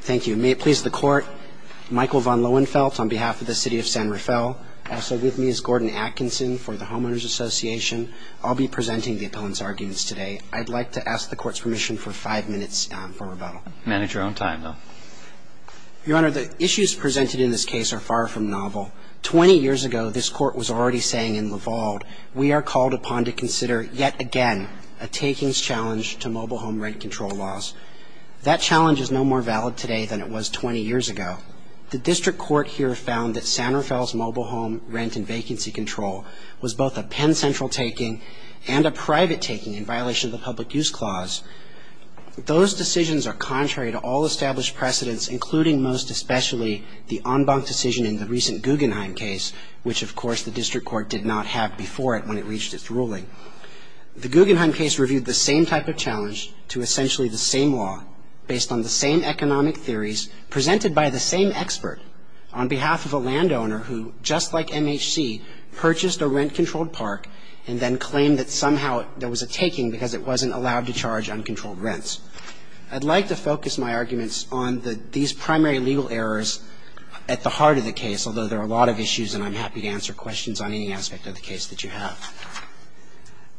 Thank you. May it please the Court, Michael von Lohenfeldt on behalf of the City of San Rafael. Also with me is Gordon Atkinson for the Homeowners Association. I'll be presenting the opponent's arguments today. I'd like to ask the Court's permission for five minutes for rebuttal. Manage your own time, though. Your Honor, the issues presented in this case are far from novel. Twenty years ago, this Court was already saying in Laval, we are called upon to consider yet again a takings challenge to mobile home rent control laws. That challenge is no more valid today than it was twenty years ago. The District Court here found that San Rafael's mobile home rent and vacancy control was both a Penn Central taking and a private taking in violation of the Public Use Clause. Those decisions are contrary to all established precedents, including most especially the en banc decision in the recent Guggenheim case, which, of course, the District Court did not have before it when it reached its ruling. The Guggenheim case reviewed the same type of challenge to essentially the same law, based on the same economic theories, presented by the same expert, on behalf of a landowner who, just like MHC, purchased a rent-controlled park and then claimed that somehow there was a taking because it wasn't allowed to charge uncontrolled rents. I'd like to focus my arguments on these primary legal errors at the heart of the case, although there are a lot of issues and I'm happy to answer questions on any aspect of the case that you have.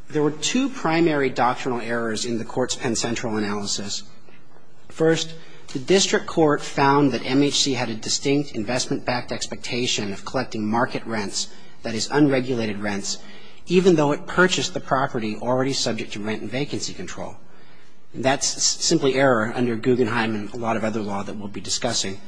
There were two primary doctrinal errors in the Court's Penn Central analysis. First, the District Court found that MHC had a distinct investment-backed expectation of collecting market rents, that is, unregulated rents, even though it purchased the property already subject to rent and vacancy control. That's simply error under Guggenheim and a lot of other law that we'll be discussing.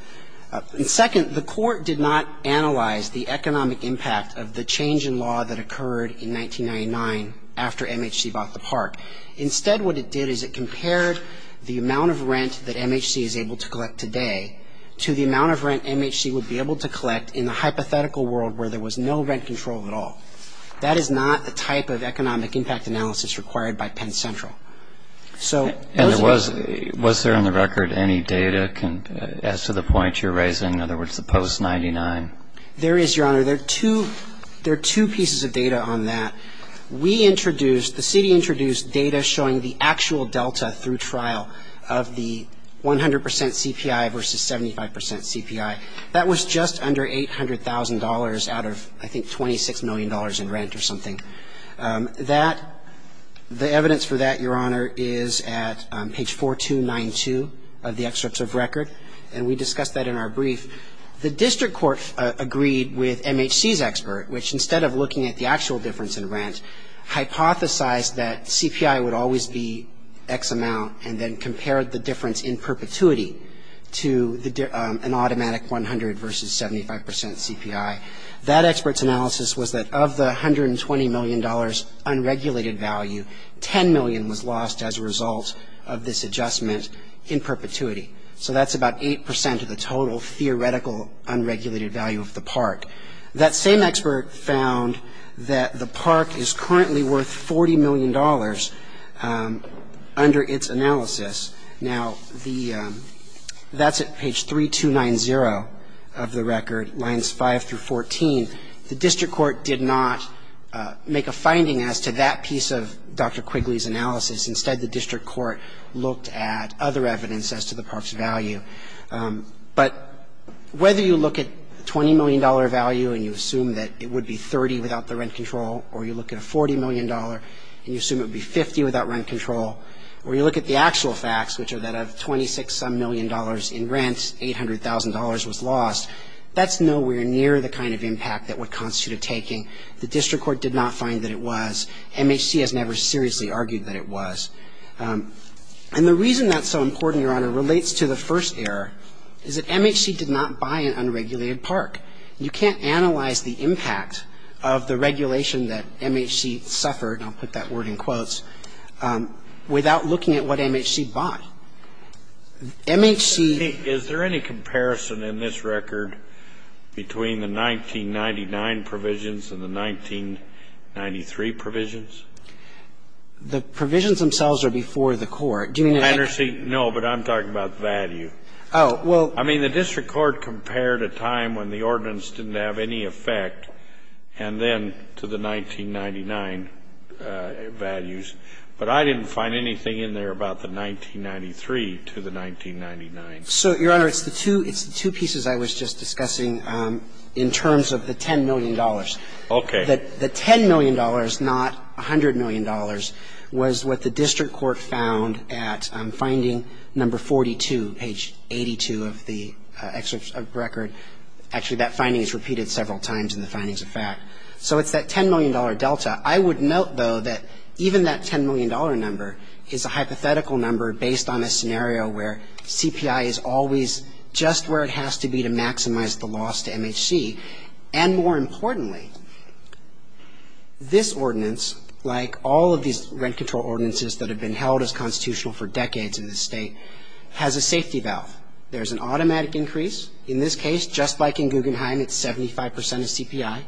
And second, the Court did not analyze the economic impact of the change in law that occurred in 1999 after MHC bought the park. Instead, what it did is it compared the amount of rent that MHC is able to collect today to the amount of rent MHC would be able to collect in the hypothetical world where there was no rent control at all. That is not the type of economic impact analysis required by Penn Central. And was there on the record any data as to the point you're raising, in other words, the post-99? There is, Your Honor. There are two pieces of data on that. We introduced, the city introduced data showing the actual delta through trial of the 100 percent CPI versus 75 percent CPI. That was just under $800,000 out of, I think, $26 million in rent or something. That, the evidence for that, Your Honor, is at page 4292 of the excerpts of record, and we discussed that in our brief. The district court agreed with MHC's expert, which instead of looking at the actual difference in rent, hypothesized that CPI would always be X amount and then compared the difference in perpetuity to an automatic 100 versus 75 percent CPI. That expert's analysis was that of the $120 million unregulated value, $10 million was lost as a result of this adjustment in perpetuity. So that's about 8 percent of the total theoretical unregulated value of the park. That same expert found that the park is currently worth $40 million under its analysis. Now, the, that's at page 3290 of the record, lines 5 through 14. The district court did not make a finding as to that piece of Dr. Quigley's analysis. Instead, the district court looked at other evidence as to the park's value. But whether you look at $20 million value and you assume that it would be 30 without the rent control or you look at a $40 million and you assume it would be 50 without rent control or you look at the actual facts, which are that of $26-some million in rent, $800,000 was lost, that's nowhere near the kind of impact that would constitute a taking. The district court did not find that it was. MHC has never seriously argued that it was. And the reason that's so important, Your Honor, relates to the first error, is that MHC did not buy an unregulated park. You can't analyze the impact of the regulation that MHC suffered, and I'll put that word in quotes, without looking at what MHC bought. MHC ---- Scalia is there any comparison in this record between the 1999 provisions and the 1993 provisions? The provisions themselves are before the Court. Do you mean to say ---- No, but I'm talking about value. Oh, well ---- I mean, the district court compared a time when the ordinance didn't have any effect and then to the 1999 values. But I didn't find anything in there about the 1993 to the 1999. So, Your Honor, it's the two pieces I was just discussing in terms of the $10 million. Okay. The $10 million, not $100 million, was what the district court found at finding number 42, page 82 of the excerpt of the record. Actually, that finding is repeated several times in the findings of fact. So it's that $10 million delta. I would note, though, that even that $10 million number is a hypothetical number based on a scenario where CPI is always just where it has to be to maximize the loss to MHC. And more importantly, this ordinance, like all of these rent control ordinances that have been held as constitutional for decades in this state, has a safety valve. There's an automatic increase. In this case, just like in Guggenheim, it's 75% of CPI.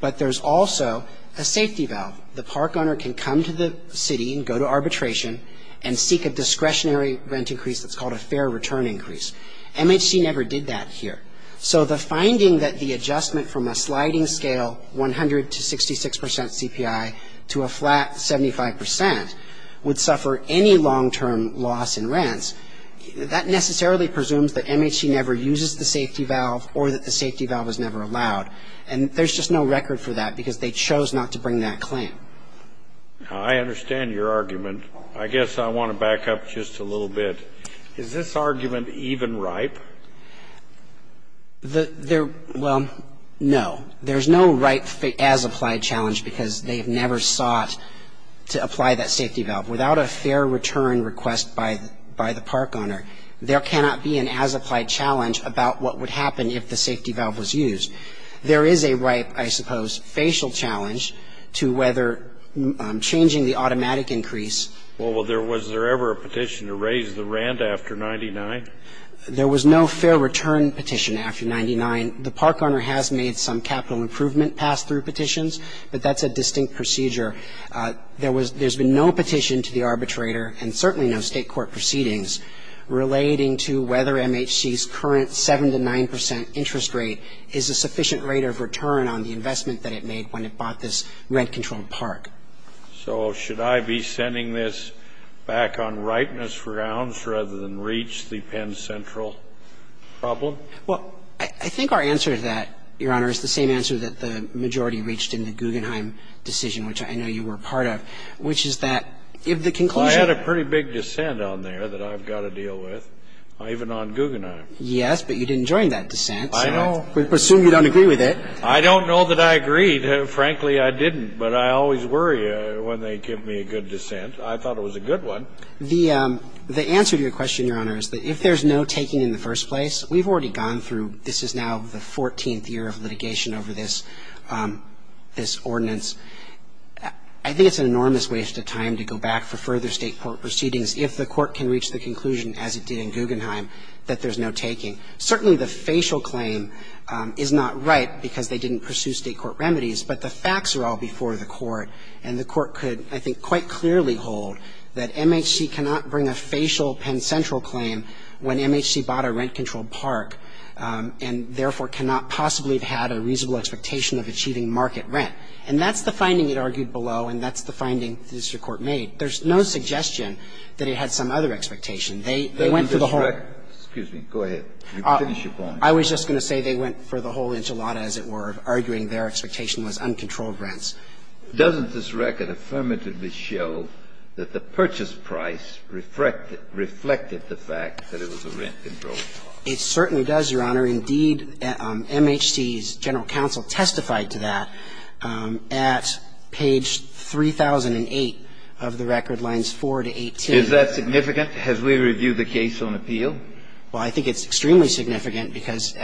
But there's also a safety valve. The park owner can come to the city and go to arbitration and seek a discretionary rent increase that's called a fair return increase. MHC never did that here. So the finding that the adjustment from a sliding scale 100 to 66% CPI to a flat 75% would suffer any long-term loss in rents, that necessarily presumes that MHC never uses the safety valve or that the safety valve is never allowed. And there's just no record for that because they chose not to bring that claim. I understand your argument. I guess I want to back up just a little bit. Is this argument even ripe? Well, no. There's no ripe as-applied challenge because they've never sought to apply that safety valve. Without a fair return request by the park owner, there cannot be an as-applied challenge about what would happen if the safety valve was used. There is a ripe, I suppose, facial challenge to whether changing the automatic increase. Well, was there ever a petition to raise the rent after 99? There was no fair return petition after 99. The park owner has made some capital improvement pass-through petitions, but that's a distinct procedure. There was no petition to the arbitrator and certainly no State court proceedings relating to whether MHC's current 7 to 9% interest rate is a sufficient rate of return on the investment that it made when it bought this rent-controlled park. So should I be sending this back on ripeness rounds rather than reach the Penn Central problem? Well, I think our answer to that, Your Honor, is the same answer that the majority reached in the Guggenheim decision, which I know you were a part of, which is that if the conclusion was to be a fair return on the investment. I had a pretty big dissent on there that I've got to deal with, even on Guggenheim. Yes, but you didn't join that dissent. I know. We presume you don't agree with it. I don't know that I agreed. Frankly, I didn't. But I always worry when they give me a good dissent. I thought it was a good one. The answer to your question, Your Honor, is that if there's no taking in the first place, we've already gone through this is now the 14th year of litigation over this ordinance. I think it's an enormous waste of time to go back for further State court proceedings if the court can reach the conclusion, as it did in Guggenheim, that there's no taking. Certainly the facial claim is not right because they didn't pursue State court remedies, but the facts are all before the court, and the court could, I think, quite clearly hold that MHC cannot bring a facial Penn Central claim when MHC bought a rent-controlled park and, therefore, cannot possibly have had a reasonable expectation of achieving market rent. And that's the finding it argued below, and that's the finding the district court made. There's no suggestion that it had some other expectation. They went for the whole of it. Excuse me. Go ahead. I was just going to say they went for the whole enchilada, as it were, of arguing their expectation was uncontrolled rents. Doesn't this record affirmatively show that the purchase price reflected the fact that it was a rent-controlled park? It certainly does, Your Honor. Indeed, MHC's general counsel testified to that at page 3008 of the record, lines 4 to 18. Is that significant? Has we reviewed the case on appeal? Well, I think it's extremely significant because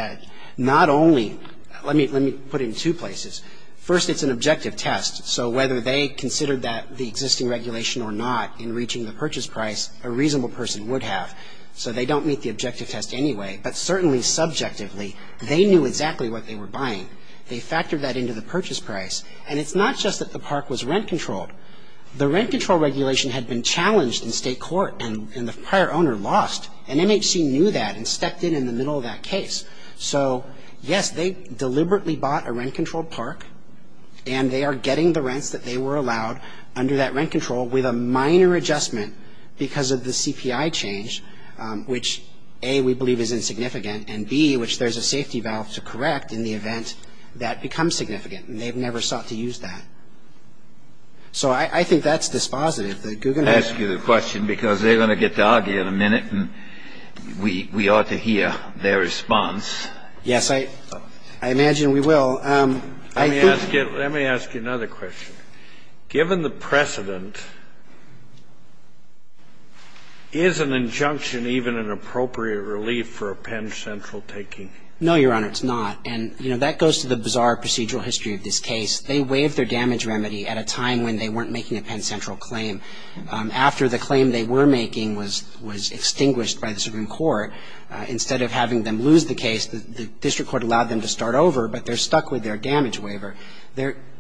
not only – let me put it in two places. First, it's an objective test. So whether they considered that the existing regulation or not in reaching the purchase price, a reasonable person would have. So they don't meet the objective test anyway. But certainly subjectively, they knew exactly what they were buying. They factored that into the purchase price. And it's not just that the park was rent-controlled. The rent-control regulation had been challenged in state court, and the prior owner lost. And MHC knew that and stepped in in the middle of that case. So, yes, they deliberately bought a rent-controlled park, and they are getting the rents that they were allowed under that rent control with a minor adjustment because of the CPI change, which, A, we believe is insignificant, and, B, which there's a safety valve to correct in the event that becomes significant. And they've never sought to use that. So I think that's dispositive. The Guggenheims – I ask you the question because they're going to get to argue in a minute, and we ought to hear their response. Yes. I imagine we will. Let me ask you another question. Given the precedent, is an injunction even an appropriate relief for a Penn Central taking? No, Your Honor, it's not. And, you know, that goes to the bizarre procedural history of this case. They waived their damage remedy at a time when they weren't making a Penn Central claim. After the claim they were making was extinguished by the Supreme Court, instead of having them lose the case, the district court allowed them to start over, but they're stuck with their damage waiver.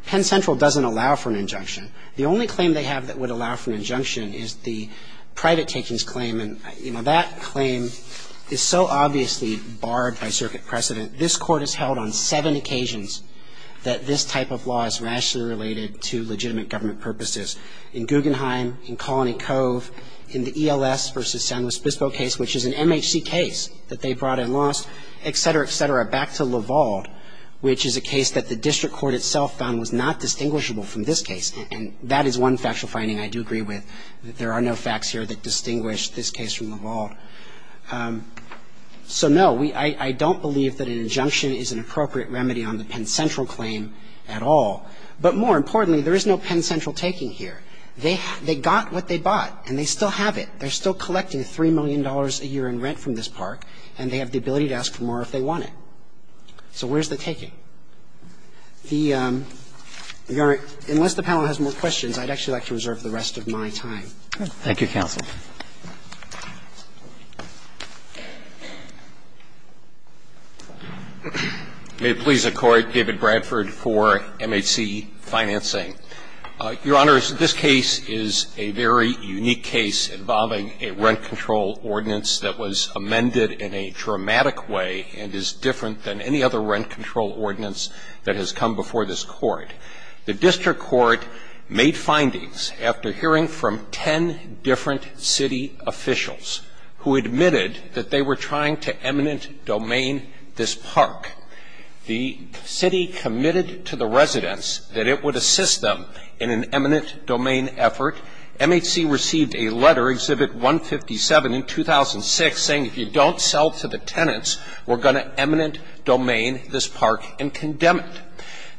Penn Central doesn't allow for an injunction. The only claim they have that would allow for an injunction is the private takings claim. And, you know, that claim is so obviously barred by circuit precedent. This Court has held on seven occasions that this type of law is rationally related to legitimate government purposes. In Guggenheim, in Colony Cove, in the ELS versus San Luis Obispo case, which is an MHC case that they brought and lost, et cetera, et cetera. Back to Lavalde, which is a case that the district court itself found was not distinguishable from this case. And that is one factual finding I do agree with, that there are no facts here that distinguish this case from Lavalde. So, no, I don't believe that an injunction is an appropriate remedy on the Penn Central claim at all. But more importantly, there is no Penn Central taking here. They got what they bought, and they still have it. They're still collecting $3 million a year in rent from this park, and they have the ability to ask for more if they want it. So where's the taking? Unless the panel has more questions, I'd actually like to reserve the rest of my time. Thank you, counsel. May it please the Court. David Bradford for MHC Financing. Your Honors, this case is a very unique case involving a rent control ordinance that was amended in a dramatic way and is different than any other rent control ordinance that has come before this Court. The district court made findings after hearing from ten different city officials who admitted that they were trying to eminent domain this park. The city committed to the residents that it would assist them in an eminent domain effort. MHC received a letter, Exhibit 157, in 2006 saying if you don't sell to the tenants, we're going to eminent domain this park and condemn it.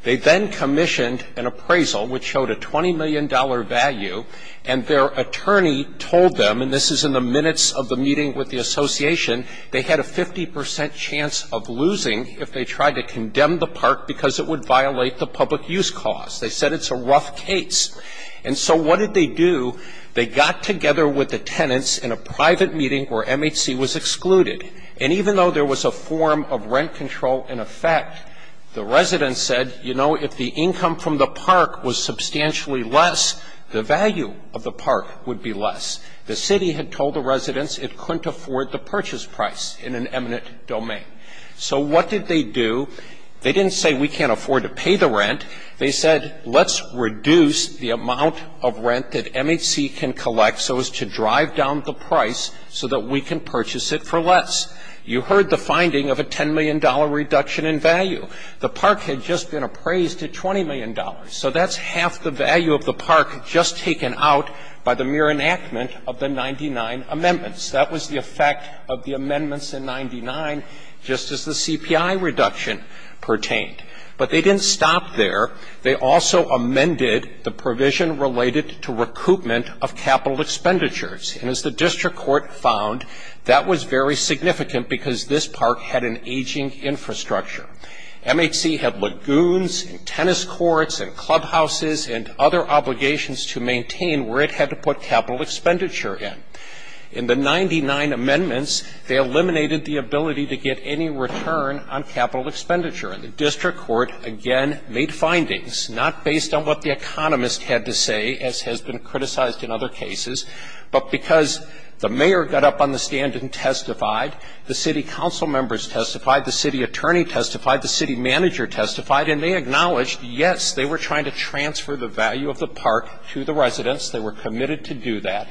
They then commissioned an appraisal which showed a $20 million value, and their attorney told them, and this is in the minutes of the meeting with the association, they had a 50 percent chance of losing if they tried to condemn the park because it would violate the public use cost. They said it's a rough case. And so what did they do? They got together with the tenants in a private meeting where MHC was excluded. And even though there was a form of rent control in effect, the residents said, you know, if the income from the park was substantially less, the value of the park would be less. The city had told the residents it couldn't afford the purchase price in an eminent domain. So what did they do? They didn't say we can't afford to pay the rent. They said let's reduce the amount of rent that MHC can collect so as to drive down the price so that we can purchase it for less. You heard the finding of a $10 million reduction in value. The park had just been appraised at $20 million. So that's half the value of the park just taken out by the mere enactment of the 99 amendments. That was the effect of the amendments in 99, just as the CPI reduction pertained. But they didn't stop there. They also amended the provision related to recoupment of capital expenditures. And as the district court found, that was very significant because this park had an aging infrastructure. MHC had lagoons and tennis courts and clubhouses and other obligations to maintain where it had to put capital expenditure in. In the 99 amendments, they eliminated the ability to get any return on capital expenditure. And the district court, again, made findings, not based on what the economist had to say, as has been criticized in other cases, but because the mayor got up on the stand and testified. The city council members testified. The city attorney testified. The city manager testified. And they acknowledged, yes, they were trying to transfer the value of the park to the residents. They were committed to do that.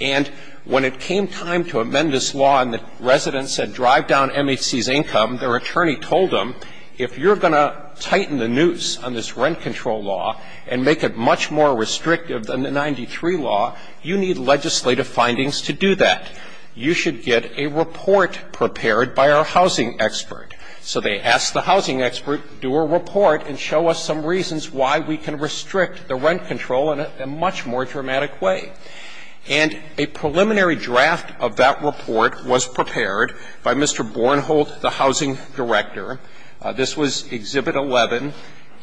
And when it came time to amend this law and the residents said drive down MHC's income, their attorney told them, if you're going to tighten the noose on this rent control law and make it much more restrictive than the 93 law, you need legislative findings to do that. You should get a report prepared by our housing expert. So they asked the housing expert, do a report and show us some reasons why we can restrict the rent control in a much more dramatic way. And a preliminary draft of that report was prepared by Mr. Bornholt, the housing director. This was Exhibit 11,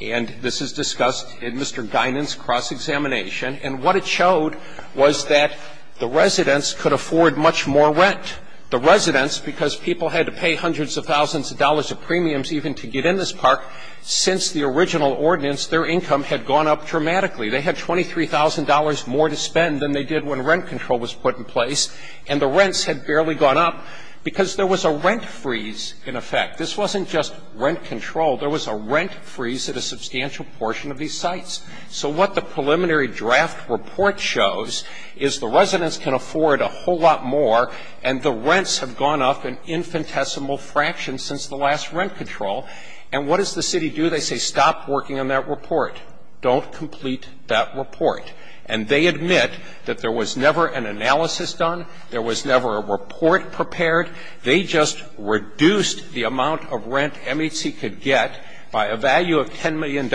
and this is discussed in Mr. Guinan's cross-examination. And what it showed was that the residents could afford much more rent. The residents, because people had to pay hundreds of thousands of dollars of premiums even to get in this park, since the original ordinance, their income had gone up dramatically. They had $23,000 more to spend than they did when rent control was put in place, and the rents had barely gone up because there was a rent freeze in effect. This wasn't just rent control. There was a rent freeze at a substantial portion of these sites. So what the preliminary draft report shows is the residents can afford a whole lot more, and the rents have gone up an infinitesimal fraction since the last rent control. And what does the city do? They say stop working on that report. Don't complete that report. And they admit that there was never an analysis done, there was never a report prepared. They just reduced the amount of rent MHC could get by a value of $10 million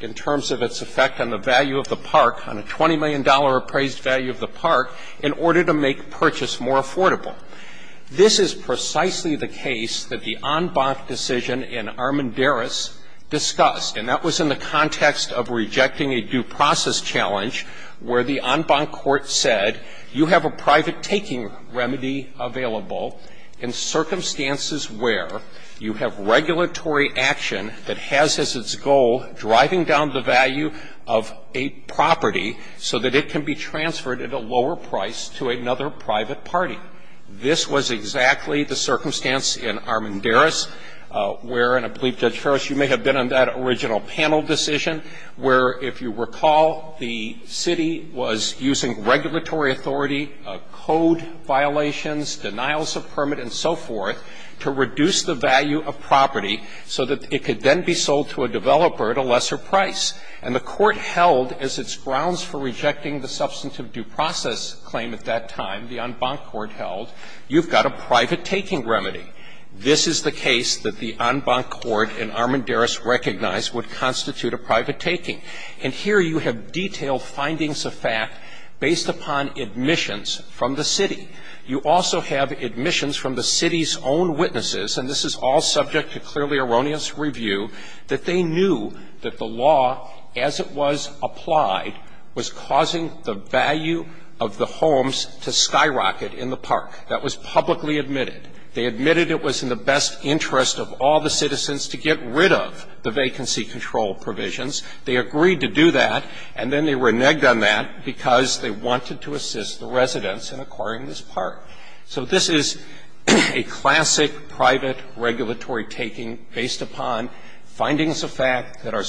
in terms of its effect on the value of the park, on a $20 million appraised value of the park, in order to make purchase more affordable. This is precisely the case that the en banc decision in Armendariz discussed, and that was in the context of rejecting a due process challenge where the en banc court said you have a private taking remedy available in circumstances where you have regulatory action that has as its goal driving down the value of a property so that it can be transferred at a lower price to another private party. This was exactly the circumstance in Armendariz where, and I believe, Judge Ferris, you may have been on that original panel decision, where, if you recall, the city was using regulatory authority, code violations, denials of permit and so forth, to reduce the value of property so that it could then be sold to a developer at a lesser price. And the court held, as its grounds for rejecting the substantive due process claim at that time, the en banc court held, you've got a private taking remedy. This is the case that the en banc court in Armendariz recognized would constitute a private taking. And here you have detailed findings of fact based upon admissions from the city. You also have admissions from the city's own witnesses, and this is all subject to clearly erroneous review, that they knew that the law, as it was applied, was causing the value of the homes to skyrocket in the park. That was publicly admitted. They admitted it was in the best interest of all the citizens to get rid of the vacancy control provisions. They agreed to do that, and then they reneged on that because they wanted to assist the residents in acquiring this park. So this is a classic private regulatory taking based upon findings of fact that are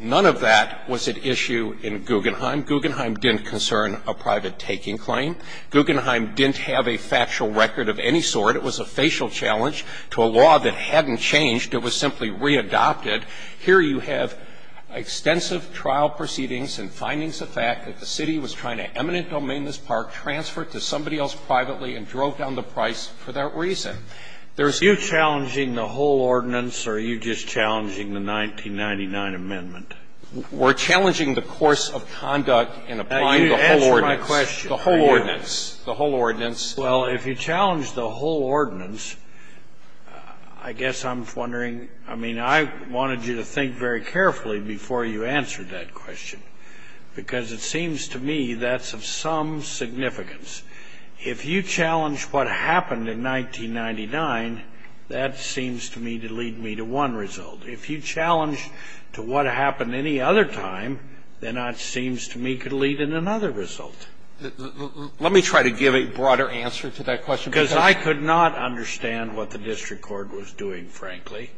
None of that was at issue in Guggenheim. Guggenheim didn't concern a private taking claim. Guggenheim didn't have a factual record of any sort. It was a facial challenge to a law that hadn't changed. It was simply readopted. Here you have extensive trial proceedings and findings of fact that the city was trying to eminent domain this park, transferred to somebody else privately, and drove down the price for that reason. There's a Are you challenging the whole ordinance, or are you just challenging the 1999 amendment? We're challenging the course of conduct in applying the whole ordinance. Answer my question. The whole ordinance. The whole ordinance. Well, if you challenge the whole ordinance, I guess I'm wondering – I mean, I wanted you to think very carefully before you answered that question, because it seems to me that's of some significance. If you challenge what happened in 1999, that seems to me to lead me to one result. If you challenge to what happened any other time, then that seems to me could lead in another result. Let me try to give a broader answer to that question. Because I could not understand what the district court was doing, frankly,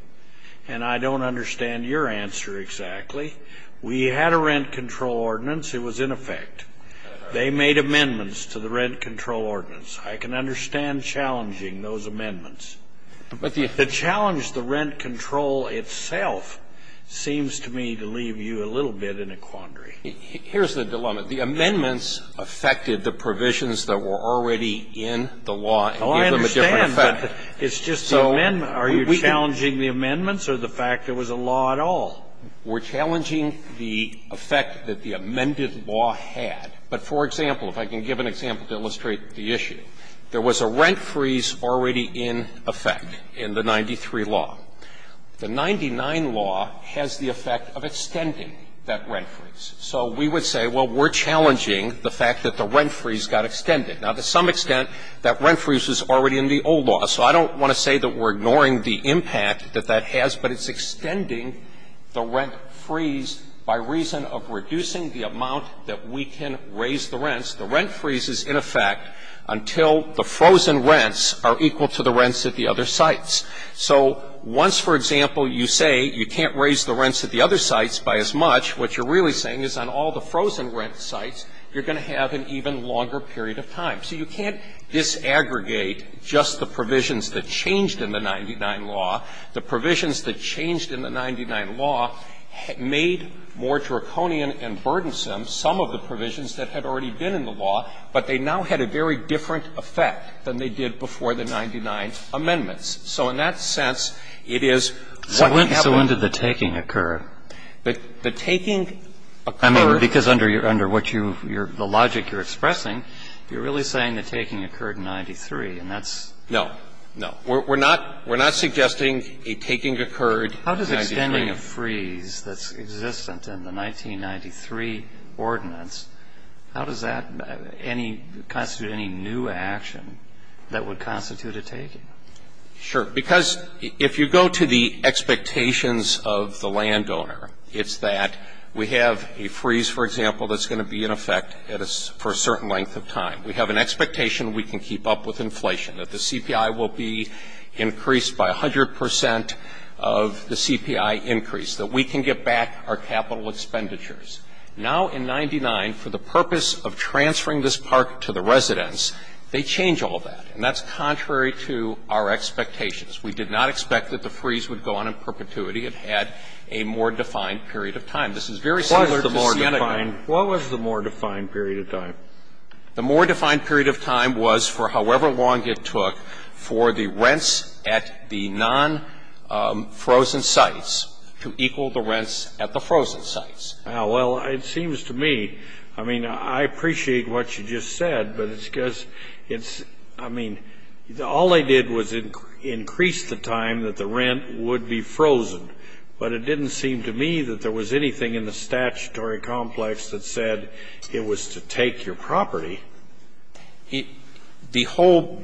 and I don't understand your answer exactly. We had a rent control ordinance. It was in effect. They made amendments to the rent control ordinance. I can understand challenging those amendments. But the challenge, the rent control itself, seems to me to leave you a little bit in a quandary. Here's the dilemma. The amendments affected the provisions that were already in the law and gave them a different effect. Oh, I understand. But it's just the amendment. Are you challenging the amendments or the fact there was a law at all? We're challenging the effect that the amended law had. But, for example, if I can give an example to illustrate the issue, there was a rent freeze already in effect in the 93 law. The 99 law has the effect of extending that rent freeze. So we would say, well, we're challenging the fact that the rent freeze got extended. Now, to some extent, that rent freeze was already in the old law, so I don't want to say that we're ignoring the impact that that has, but it's extending the rent freeze by reason of reducing the amount that we can raise the rents. The rent freeze is in effect until the frozen rents are equal to the rents at the other sites. So once, for example, you say you can't raise the rents at the other sites by as much, what you're really saying is on all the frozen rent sites, you're going to have an even longer period of time. So you can't disaggregate just the provisions that changed in the 99 law. The provisions that changed in the 99 law made more draconian and burdensome some of the provisions that had already been in the law, but they now had a very different effect than they did before the 99 amendments. So in that sense, it is what happened. Kennedy, so when did the taking occur? The taking occurred. I mean, because under what you've you're the logic you're expressing, you're really saying the taking occurred in 93, and that's. No. No. We're not suggesting a taking occurred in 93. If we're considering a freeze that's existent in the 1993 ordinance, how does that constitute any new action that would constitute a taking? Sure. Because if you go to the expectations of the landowner, it's that we have a freeze, for example, that's going to be in effect for a certain length of time. We have an expectation we can keep up with inflation, that the CPI will be increased by 100 percent of the CPI increase, that we can get back our capital expenditures. Now in 99, for the purpose of transferring this park to the residents, they change all that, and that's contrary to our expectations. We did not expect that the freeze would go on in perpetuity. It had a more defined period of time. This is very similar to Siena County. What was the more defined period of time? The more defined period of time was for however long it took for the rents at the non-frozen sites to equal the rents at the frozen sites. Now, well, it seems to me, I mean, I appreciate what you just said, but it's because it's, I mean, all they did was increase the time that the rent would be frozen. But it didn't seem to me that there was anything in the statutory complex that said it was to take your property. The whole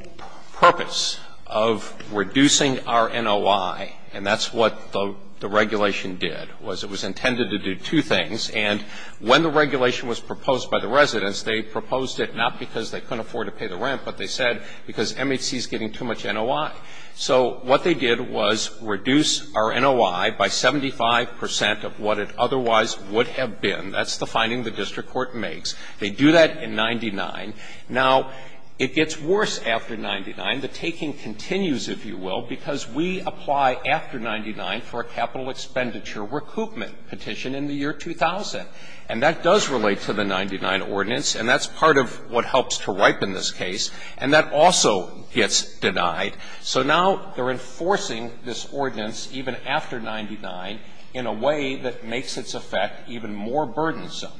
purpose of reducing our NOI, and that's what the regulation did, was it was intended to do two things, and when the regulation was proposed by the residents, they proposed it not because they couldn't afford to pay the rent, but they said because MHC is getting too much NOI. So what they did was reduce our NOI by 75 percent of what it otherwise would have been. That's the finding the district court makes. They do that in 99. Now, it gets worse after 99. The taking continues, if you will, because we apply after 99 for a capital expenditure recoupment petition in the year 2000. And that does relate to the 99 ordinance, and that's part of what helps to ripen this case, and that also gets denied. So now they're enforcing this ordinance, even after 99, in a way that makes its effect even more burdensome.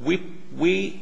We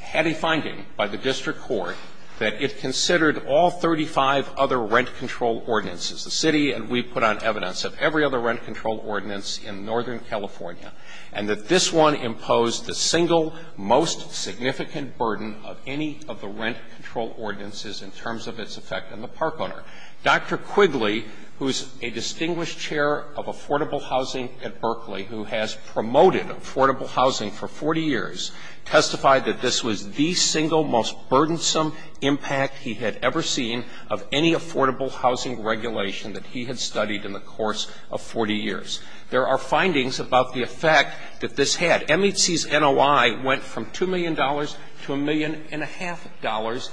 had a finding by the district court that it considered all 35 other rent control ordinances, the City and we put on evidence of every other rent control ordinance in Northern California, and that this one imposed the single most significant burden of any of the rent control ordinances in terms of its effect on the park owner. Dr. Quigley, who is a distinguished chair of affordable housing at Berkeley, who has promoted affordable housing for 40 years, testified that this was the single most burdensome impact he had ever seen of any affordable housing regulation that he had studied in the course of 40 years. There are findings about the effect that this had. MHC's NOI went from $2 million to $1.5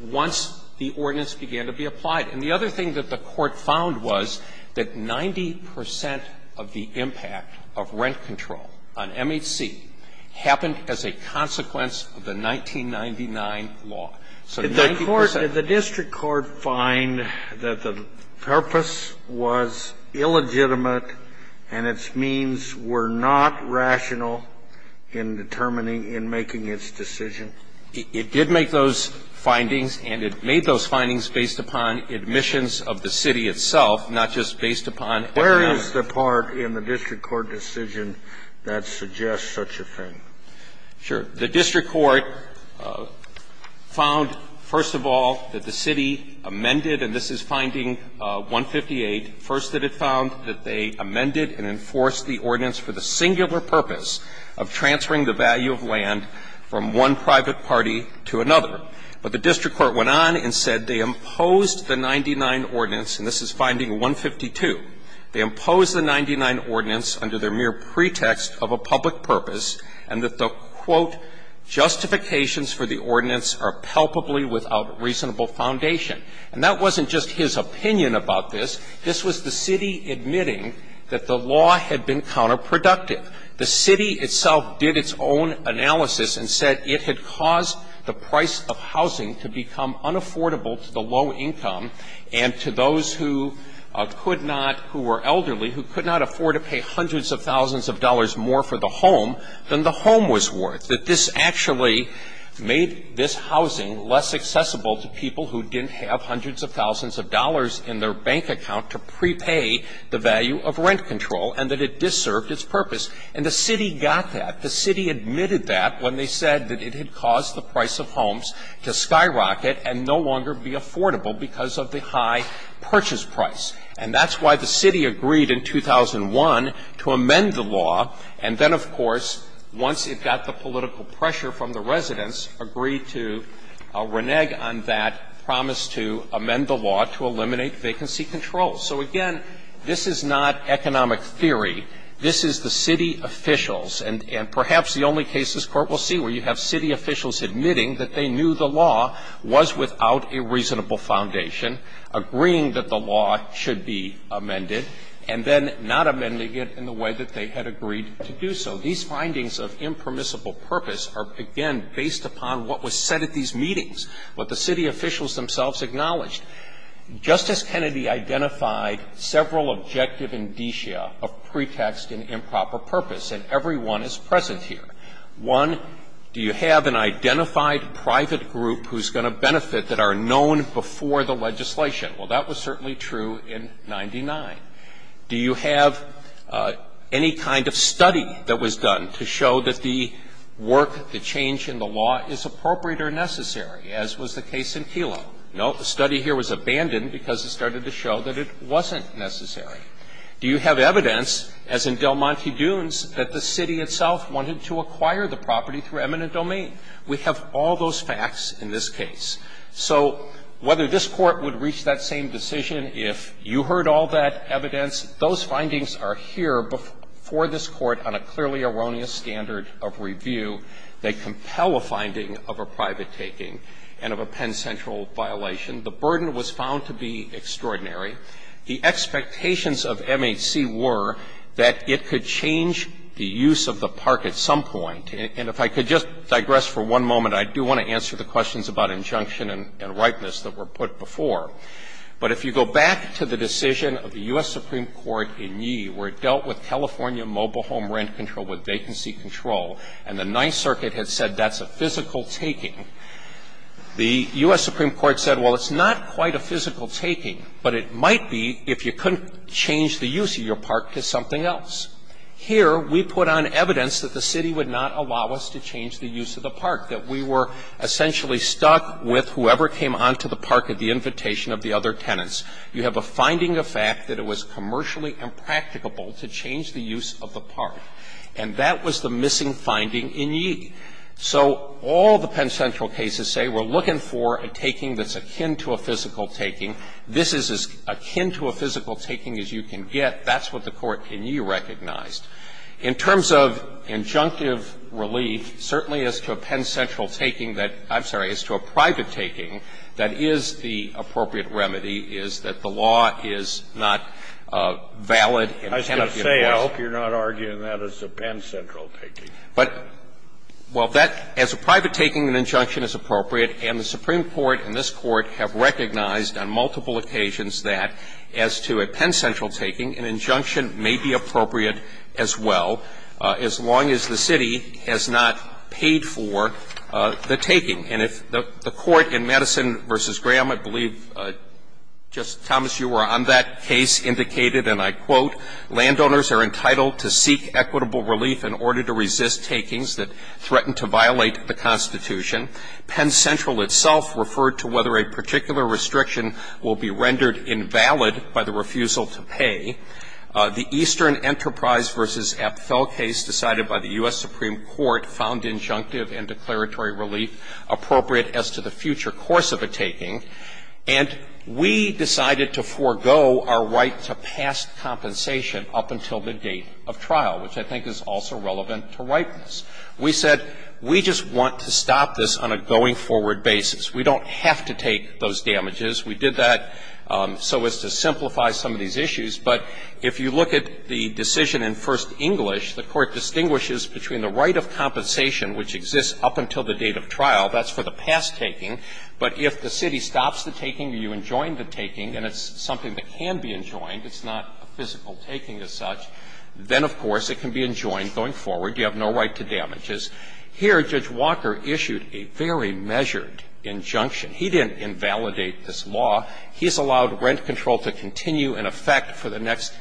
million once the ordinance began to be applied. And the other thing that the Court found was that 90 percent of the impact of rent control on MHC happened as a consequence of the 1999 law. So 90 percent. Scalia. Did the court, did the district court find that the purpose was illegitimate and its means were not rational in determining, in making its decision? It did make those findings, and it made those findings based upon admissions of the city itself, not just based upon evidence. Where is the part in the district court decision that suggests such a thing? Sure. The district court found, first of all, that the city amended, and this is finding 158, first that it found that they amended and enforced the ordinance for the singular purpose of transferring the value of land from one private party to another. But the district court went on and said they imposed the 99 ordinance, and this is finding 152, they imposed the 99 ordinance under their mere pretext of a public purpose and that the, quote, "...justifications for the ordinance are palpably without reasonable foundation." And that wasn't just his opinion about this. This was the city admitting that the law had been counterproductive. The city itself did its own analysis and said it had caused the price of housing to become unaffordable to the low income and to those who could not, who were elderly, who could not afford to pay hundreds of thousands of dollars more for the home than the home was worth, that this actually made this housing less accessible to people who didn't have hundreds of thousands of dollars in their bank account to prepay the value of rent control and that it disserved its purpose. And the city got that. The city admitted that when they said that it had caused the price of homes to skyrocket and no longer be affordable because of the high purchase price. And that's why the city agreed in 2001 to amend the law, and then, of course, once it got the political pressure from the residents, agreed to renege on that promise to amend the law to eliminate vacancy control. So, again, this is not economic theory. This is the city officials. And perhaps the only case this Court will see where you have city officials admitting that they knew the law was without a reasonable foundation, agreeing that the law should be amended, and then not amending it in the way that they had agreed to do so. These findings of impermissible purpose are, again, based upon what was said at these meetings, what the city officials themselves acknowledged. Justice Kennedy identified several objective indicia of pretext and improper purpose, and every one is present here. One, do you have an identified private group who's going to benefit that are known before the legislation? Well, that was certainly true in 99. Do you have any kind of study that was done to show that the work, the change in the law is appropriate or necessary, as was the case in Kelo? No. The study here was abandoned because it started to show that it wasn't necessary. Do you have evidence, as in Del Monte Dunes, that the city itself wanted to acquire the property through eminent domain? We have all those facts in this case. So whether this Court would reach that same decision if you heard all that evidence, those findings are here before this Court on a clearly erroneous standard of review that compel a finding of a private taking and of a Penn Central violation. The burden was found to be extraordinary. The expectations of MHC were that it could change the use of the park at some point. And if I could just digress for one moment, I do want to answer the questions about injunction and ripeness that were put before. But if you go back to the decision of the U.S. Supreme Court in Yee, where it dealt with California mobile home rent control, with vacancy control, and the Ninth Circuit had said that's a physical taking, the U.S. Supreme Court said, well, it's not quite a physical taking, but it might be if you couldn't change the use of your park to something else. Here, we put on evidence that the city would not allow us to change the use of the park, that we were essentially stuck with whoever came on to the park at the invitation of the other tenants. You have a finding of fact that it was commercially impracticable to change the use of the park. And that was the missing finding in Yee. So all the Penn Central cases say we're looking for a taking that's akin to a physical taking. This is as akin to a physical taking as you can get. That's what the Court in Yee recognized. In terms of injunctive relief, certainly as to a Penn Central taking that – I'm not arguing that as a private taking, but as a private taking, an injunction is appropriate, and the Supreme Court and this Court have recognized on multiple occasions that, as to a Penn Central taking, an injunction may be appropriate as well, as long as the city has not paid for the taking. And if the Court in Madison v. Graham, I believe just a few years ago, said, well, and declaratory relief. Thomas, you were on that case, indicated, and I quote, Landowners are entitled to seek equitable relief in order to resist takings that threaten to violate the Constitution. Penn Central itself referred to whether a particular restriction will be rendered invalid by the refusal to pay. The Eastern Enterprise v. Apfel case decided by the U.S. Supreme Court found injunctive and declaratory relief appropriate as to the future course of a taking. And we decided to forego our right to past compensation up until the date of trial, which I think is also relevant to ripeness. We said we just want to stop this on a going-forward basis. We don't have to take those damages. We did that so as to simplify some of these issues. But if you look at the decision in First English, the Court distinguishes between the right of compensation, which exists up until the date of trial, that's for the past taking, but if the city stops the taking or you enjoin the taking and it's something that can be enjoined, it's not a physical taking as such, then, of course, it can be enjoined going forward. You have no right to damages. Here, Judge Walker issued a very measured injunction. He didn't invalidate this law. He has allowed rent control to continue in effect for the next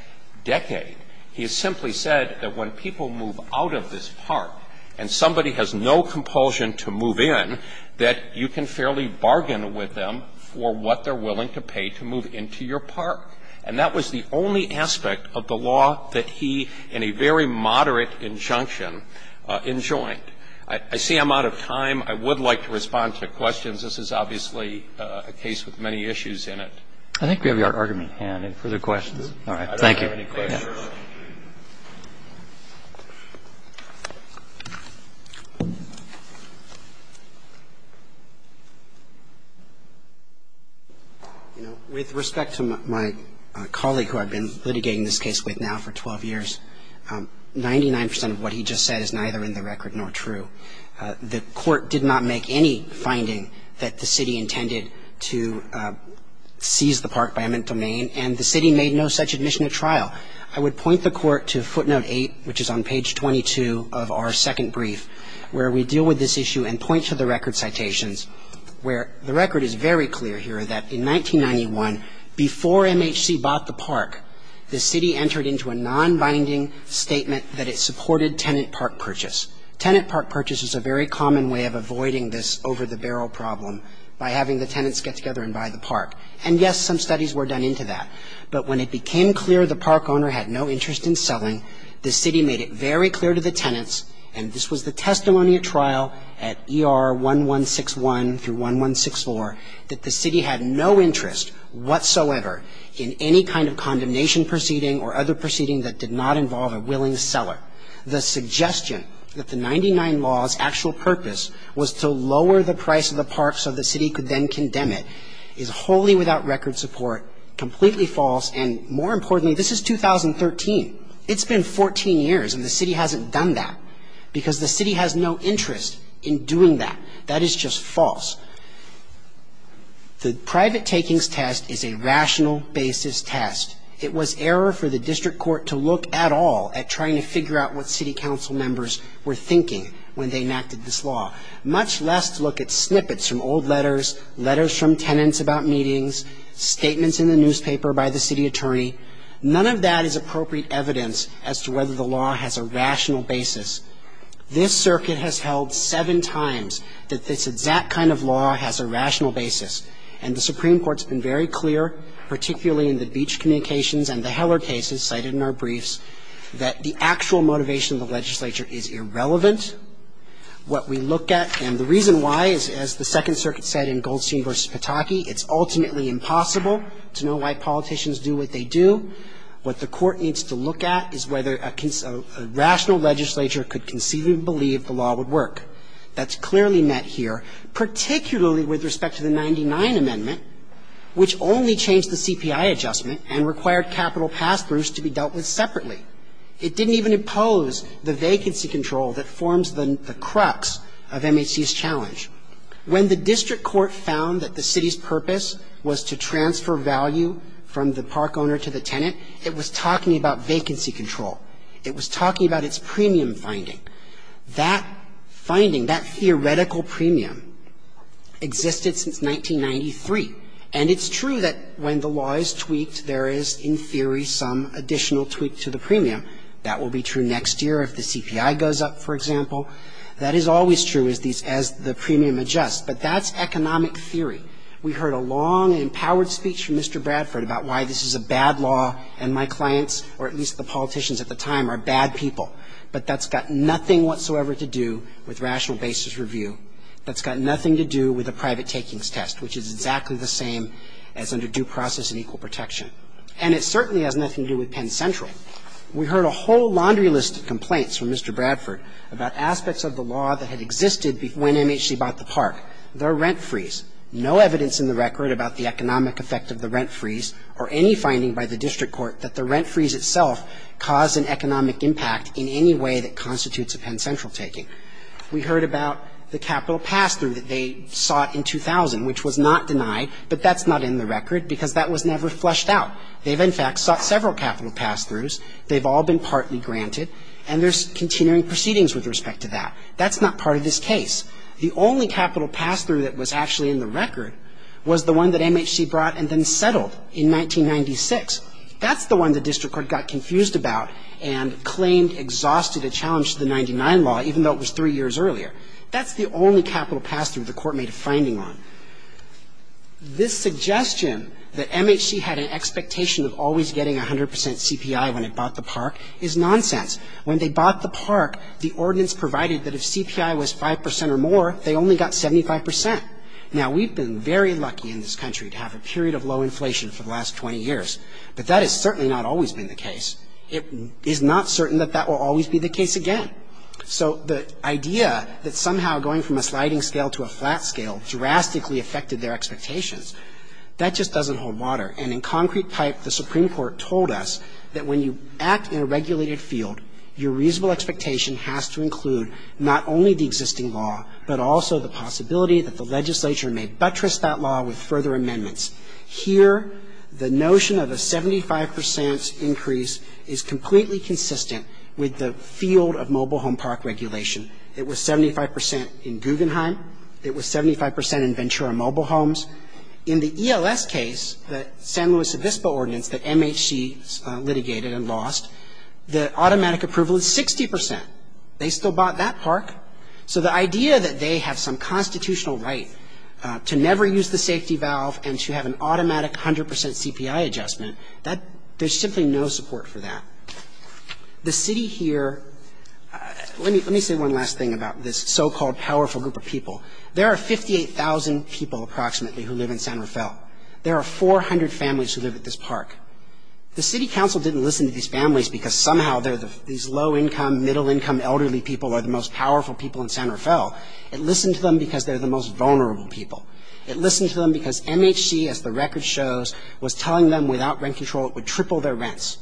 decade. He has simply said that when people move out of this park and somebody has no compulsion to move in, that you can fairly bargain with them for what they're willing to pay to move into your park. And that was the only aspect of the law that he, in a very moderate injunction, enjoined. I see I'm out of time. I would like to respond to questions. This is obviously a case with many issues in it. Roberts. I think we have your argument at hand. Any further questions? All right. Thank you. Roberts. I don't have any questions. Roberts. With respect to my colleague who I've been litigating this case with now for 12 years, 99 percent of what he just said is neither in the record nor true. The court did not make any finding that the city intended to seize the park by a mental main, and the city made no such admission at trial. I would point the court to footnote 8, which is on page 22 of our second brief, where we deal with this issue and point to the record citations, where the record is very clear here that in 1991, before MHC bought the park, the city entered into a nonbinding statement that it supported tenant park purchase. Tenant park purchase is a very common way of avoiding this over-the-barrel problem by having the tenants get together and buy the park. And, yes, some studies were done into that. But when it became clear the park owner had no interest in selling, the city made it very clear to the tenants, and this was the testimony at trial at ER 1161 through 1164, that the city had no interest whatsoever in any kind of condemnation proceeding or other proceeding that did not involve a willing seller. The suggestion that the 99 law's actual purpose was to lower the price of the park so the city could then condemn it is wholly without record support, completely false, and, more importantly, this is 2013. It's been 14 years and the city hasn't done that because the city has no interest in doing that. That is just false. The private takings test is a rational basis test. It was error for the district court to look at all at trying to figure out what city council members were thinking when they enacted this law, much less to look at snippets from old letters, letters from tenants about meetings, statements in the newspaper by the city attorney. None of that is appropriate evidence as to whether the law has a rational basis. This circuit has held seven times that this exact kind of law has a rational basis. And the Supreme Court's been very clear, particularly in the Beach communications and the Heller cases cited in our briefs, that the actual motivation of the legislature is irrelevant. What we look at and the reason why is, as the Second Circuit said in Goldstein v. Pataki, it's ultimately impossible to know why politicians do what they do. What the court needs to look at is whether a rational legislature could conceivably believe the law would work. That's clearly met here, particularly with respect to the 99 Amendment, which only changed the CPI adjustment and required capital pass-throughs to be dealt with separately. It didn't even impose the vacancy control that forms the crux of MHC's challenge. When the district court found that the city's purpose was to transfer value from the park owner to the tenant, it was talking about vacancy control. It was talking about its premium finding. That finding, that theoretical premium, existed since 1993. And it's true that when the law is tweaked, there is, in theory, some additional tweak to the premium. That will be true next year if the CPI goes up, for example. That is always true as the premium adjusts, but that's economic theory. We heard a long and empowered speech from Mr. Bradford about why this is a bad law and my clients, or at least the politicians at the time, are bad people. But that's got nothing whatsoever to do with rational basis review. That's got nothing to do with a private takings test, which is exactly the same as under due process and equal protection. And it certainly has nothing to do with Penn Central. We heard a whole laundry list of complaints from Mr. Bradford about aspects of the law that had existed when MHC bought the park. The rent freeze. No evidence in the record about the economic effect of the rent freeze or any finding by the district court that the rent freeze itself caused an economic impact in any way that constitutes a Penn Central taking. We heard about the capital pass-through that they sought in 2000, which was not denied, but that's not in the record because that was never fleshed out. They've, in fact, sought several capital pass-throughs. They've all been partly granted, and there's continuing proceedings with respect to that. That's not part of this case. The only capital pass-through that was actually in the record was the one that MHC brought and then settled in 1996. That's the one the district court got confused about and claimed exhausted a challenge to the 99 law, even though it was three years earlier. That's the only capital pass-through the court made a finding on. This suggestion that MHC had an expectation of always getting 100% CPI when it bought the park is nonsense. When they bought the park, the ordinance provided that if CPI was 5% or more, they only got 75%. Now, we've been very lucky in this country to have a period of low inflation for the last 20 years, but that has certainly not always been the case. It is not certain that that will always be the case again. So the idea that somehow going from a sliding scale to a flat scale drastically affected their expectations, that just doesn't hold water. And in concrete pipe, the Supreme Court told us that when you act in a regulated field, your reasonable expectation has to include not only the existing law, but also the possibility that the legislature may buttress that law with further amendments. Here, the notion of a 75% increase is completely consistent with the field of mobile home park regulation. It was 75% in Guggenheim. It was 75% in Ventura Mobile Homes. In the ELS case, the San Luis Obispo ordinance that MHC litigated and lost, the automatic approval is 60%. They still bought that park. So the idea that they have some constitutional right to never use the safety valve and to have an automatic 100% CPI adjustment, there's simply no support for that. The city here, let me say one last thing about this so-called powerful group of people. There are 58,000 people approximately who live in San Rafael. There are 400 families who live at this park. The city council didn't listen to these families because somehow these low-income, middle-income, elderly people are the most powerful people in San Rafael. It listened to them because they're the most vulnerable people. It listened to them because MHC, as the record shows, was telling them without rent control it would triple their rents.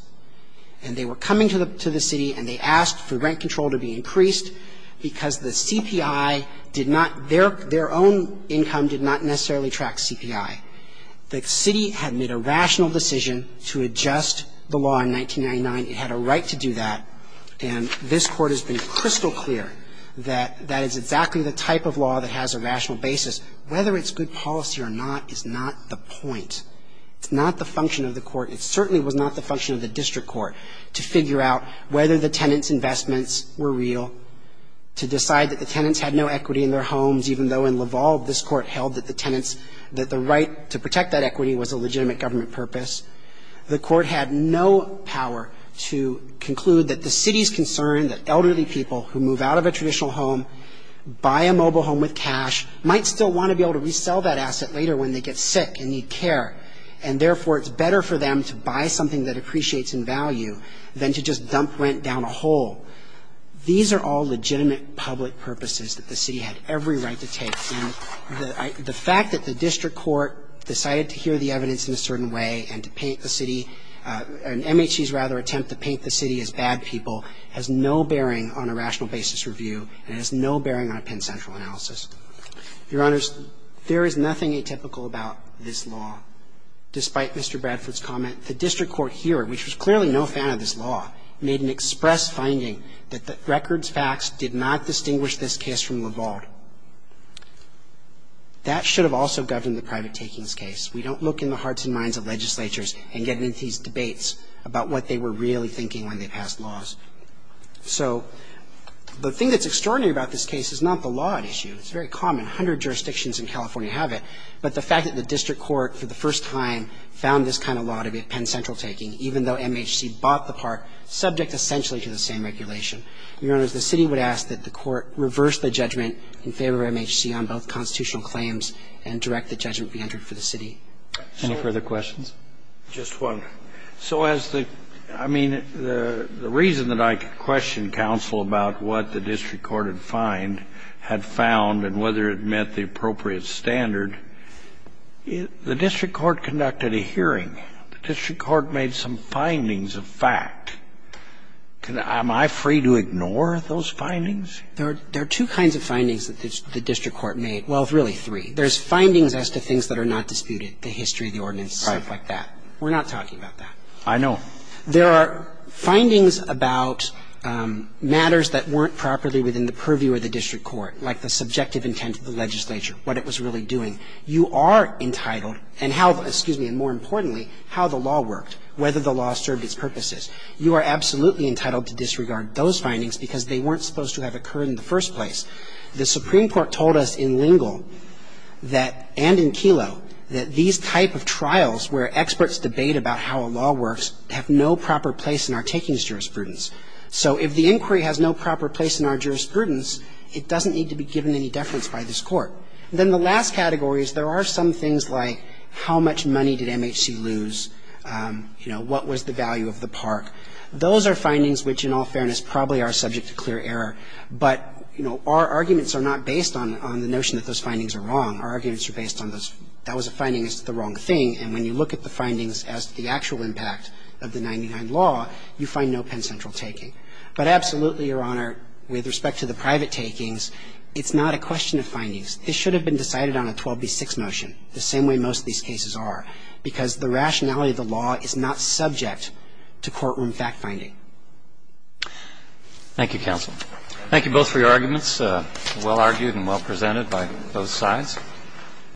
And they were coming to the city and they asked for rent control to be increased because the CPI did not, their own income did not necessarily track CPI. The city had made a rational decision to adjust the law in 1999. It had a right to do that. And this Court has been crystal clear that that is exactly the type of law that has a rational basis. Whether it's good policy or not is not the point. It's not the function of the Court. It certainly was not the function of the district court to figure out whether the tenants' investments were real, to decide that the tenants had no equity in their homes, even though in Laval this Court held that the tenants, that the right to protect that equity was a legitimate government purpose. The Court had no power to conclude that the city's concern that elderly people who move out of a traditional home, buy a mobile home with cash, might still want to be able to resell that asset later when they get sick and need care. And therefore, it's better for them to buy something that appreciates in value than to just dump rent down a hole. These are all legitimate public purposes that the city had every right to take. And the fact that the district court decided to hear the evidence in a certain way and to paint the city, an MHC's rather attempt to paint the city as bad people, has no bearing on a rational basis review and has no bearing on a Penn Central analysis. Your Honors, there is nothing atypical about this law. Despite Mr. Bradford's comment, the district court here, which was clearly no fan of this law, made an express finding that the records facts did not distinguish this case from Laval. That should have also governed the private takings case. We don't look in the hearts and minds of legislatures and get into these debates about what they were really thinking when they passed laws. So the thing that's extraordinary about this case is not the law at issue. It's very common. A hundred jurisdictions in California have it. But the fact that the district court for the first time found this kind of law to be a Penn Central taking, even though MHC bought the part, subject essentially to the same regulation. Your Honors, the city would ask that the court reverse the judgment in favor of MHC on both constitutional claims and direct the judgment to be entered for the city. Any further questions? Just one. So as the, I mean, the reason that I could question counsel about what the district court had found and whether it met the appropriate standard, the district court conducted a hearing, the district court made some findings of fact. Can I, am I free to ignore those findings? There are two kinds of findings that the district court made, well, really three. There's findings as to things that are not disputed, the history, the ordinance, stuff like that. We're not talking about that. I know. There are findings about matters that weren't properly within the purview of the district court, like the subjective intent of the legislature, what it was really doing. You are entitled, and how, excuse me, and more importantly, how the law worked, whether the law served its purposes. You are absolutely entitled to disregard those findings because they weren't supposed to have occurred in the first place. The Supreme Court told us in Lingle that, and in Kelo, that these type of trials where experts debate about how a law works have no proper place in our takings jurisprudence. So if the inquiry has no proper place in our jurisprudence, it doesn't need to be given any deference by this court. Then the last category is there are some things like how much money did MHC lose? You know, what was the value of the park? Those are findings which, in all fairness, probably are subject to clear error, but, you know, our arguments are not based on the notion that those findings are wrong. Our arguments are based on those, that was a finding as to the wrong thing, and when you look at the findings as to the actual impact of the 99 law, you find no Penn Central taking. But absolutely, Your Honor, with respect to the private takings, it's not a question of findings. This should have been decided on a 12b6 motion, the same way most of these cases are, because the rationality of the law is not subject to courtroom fact finding. Thank you, counsel. Thank you both for your arguments, well argued and well presented by both sides.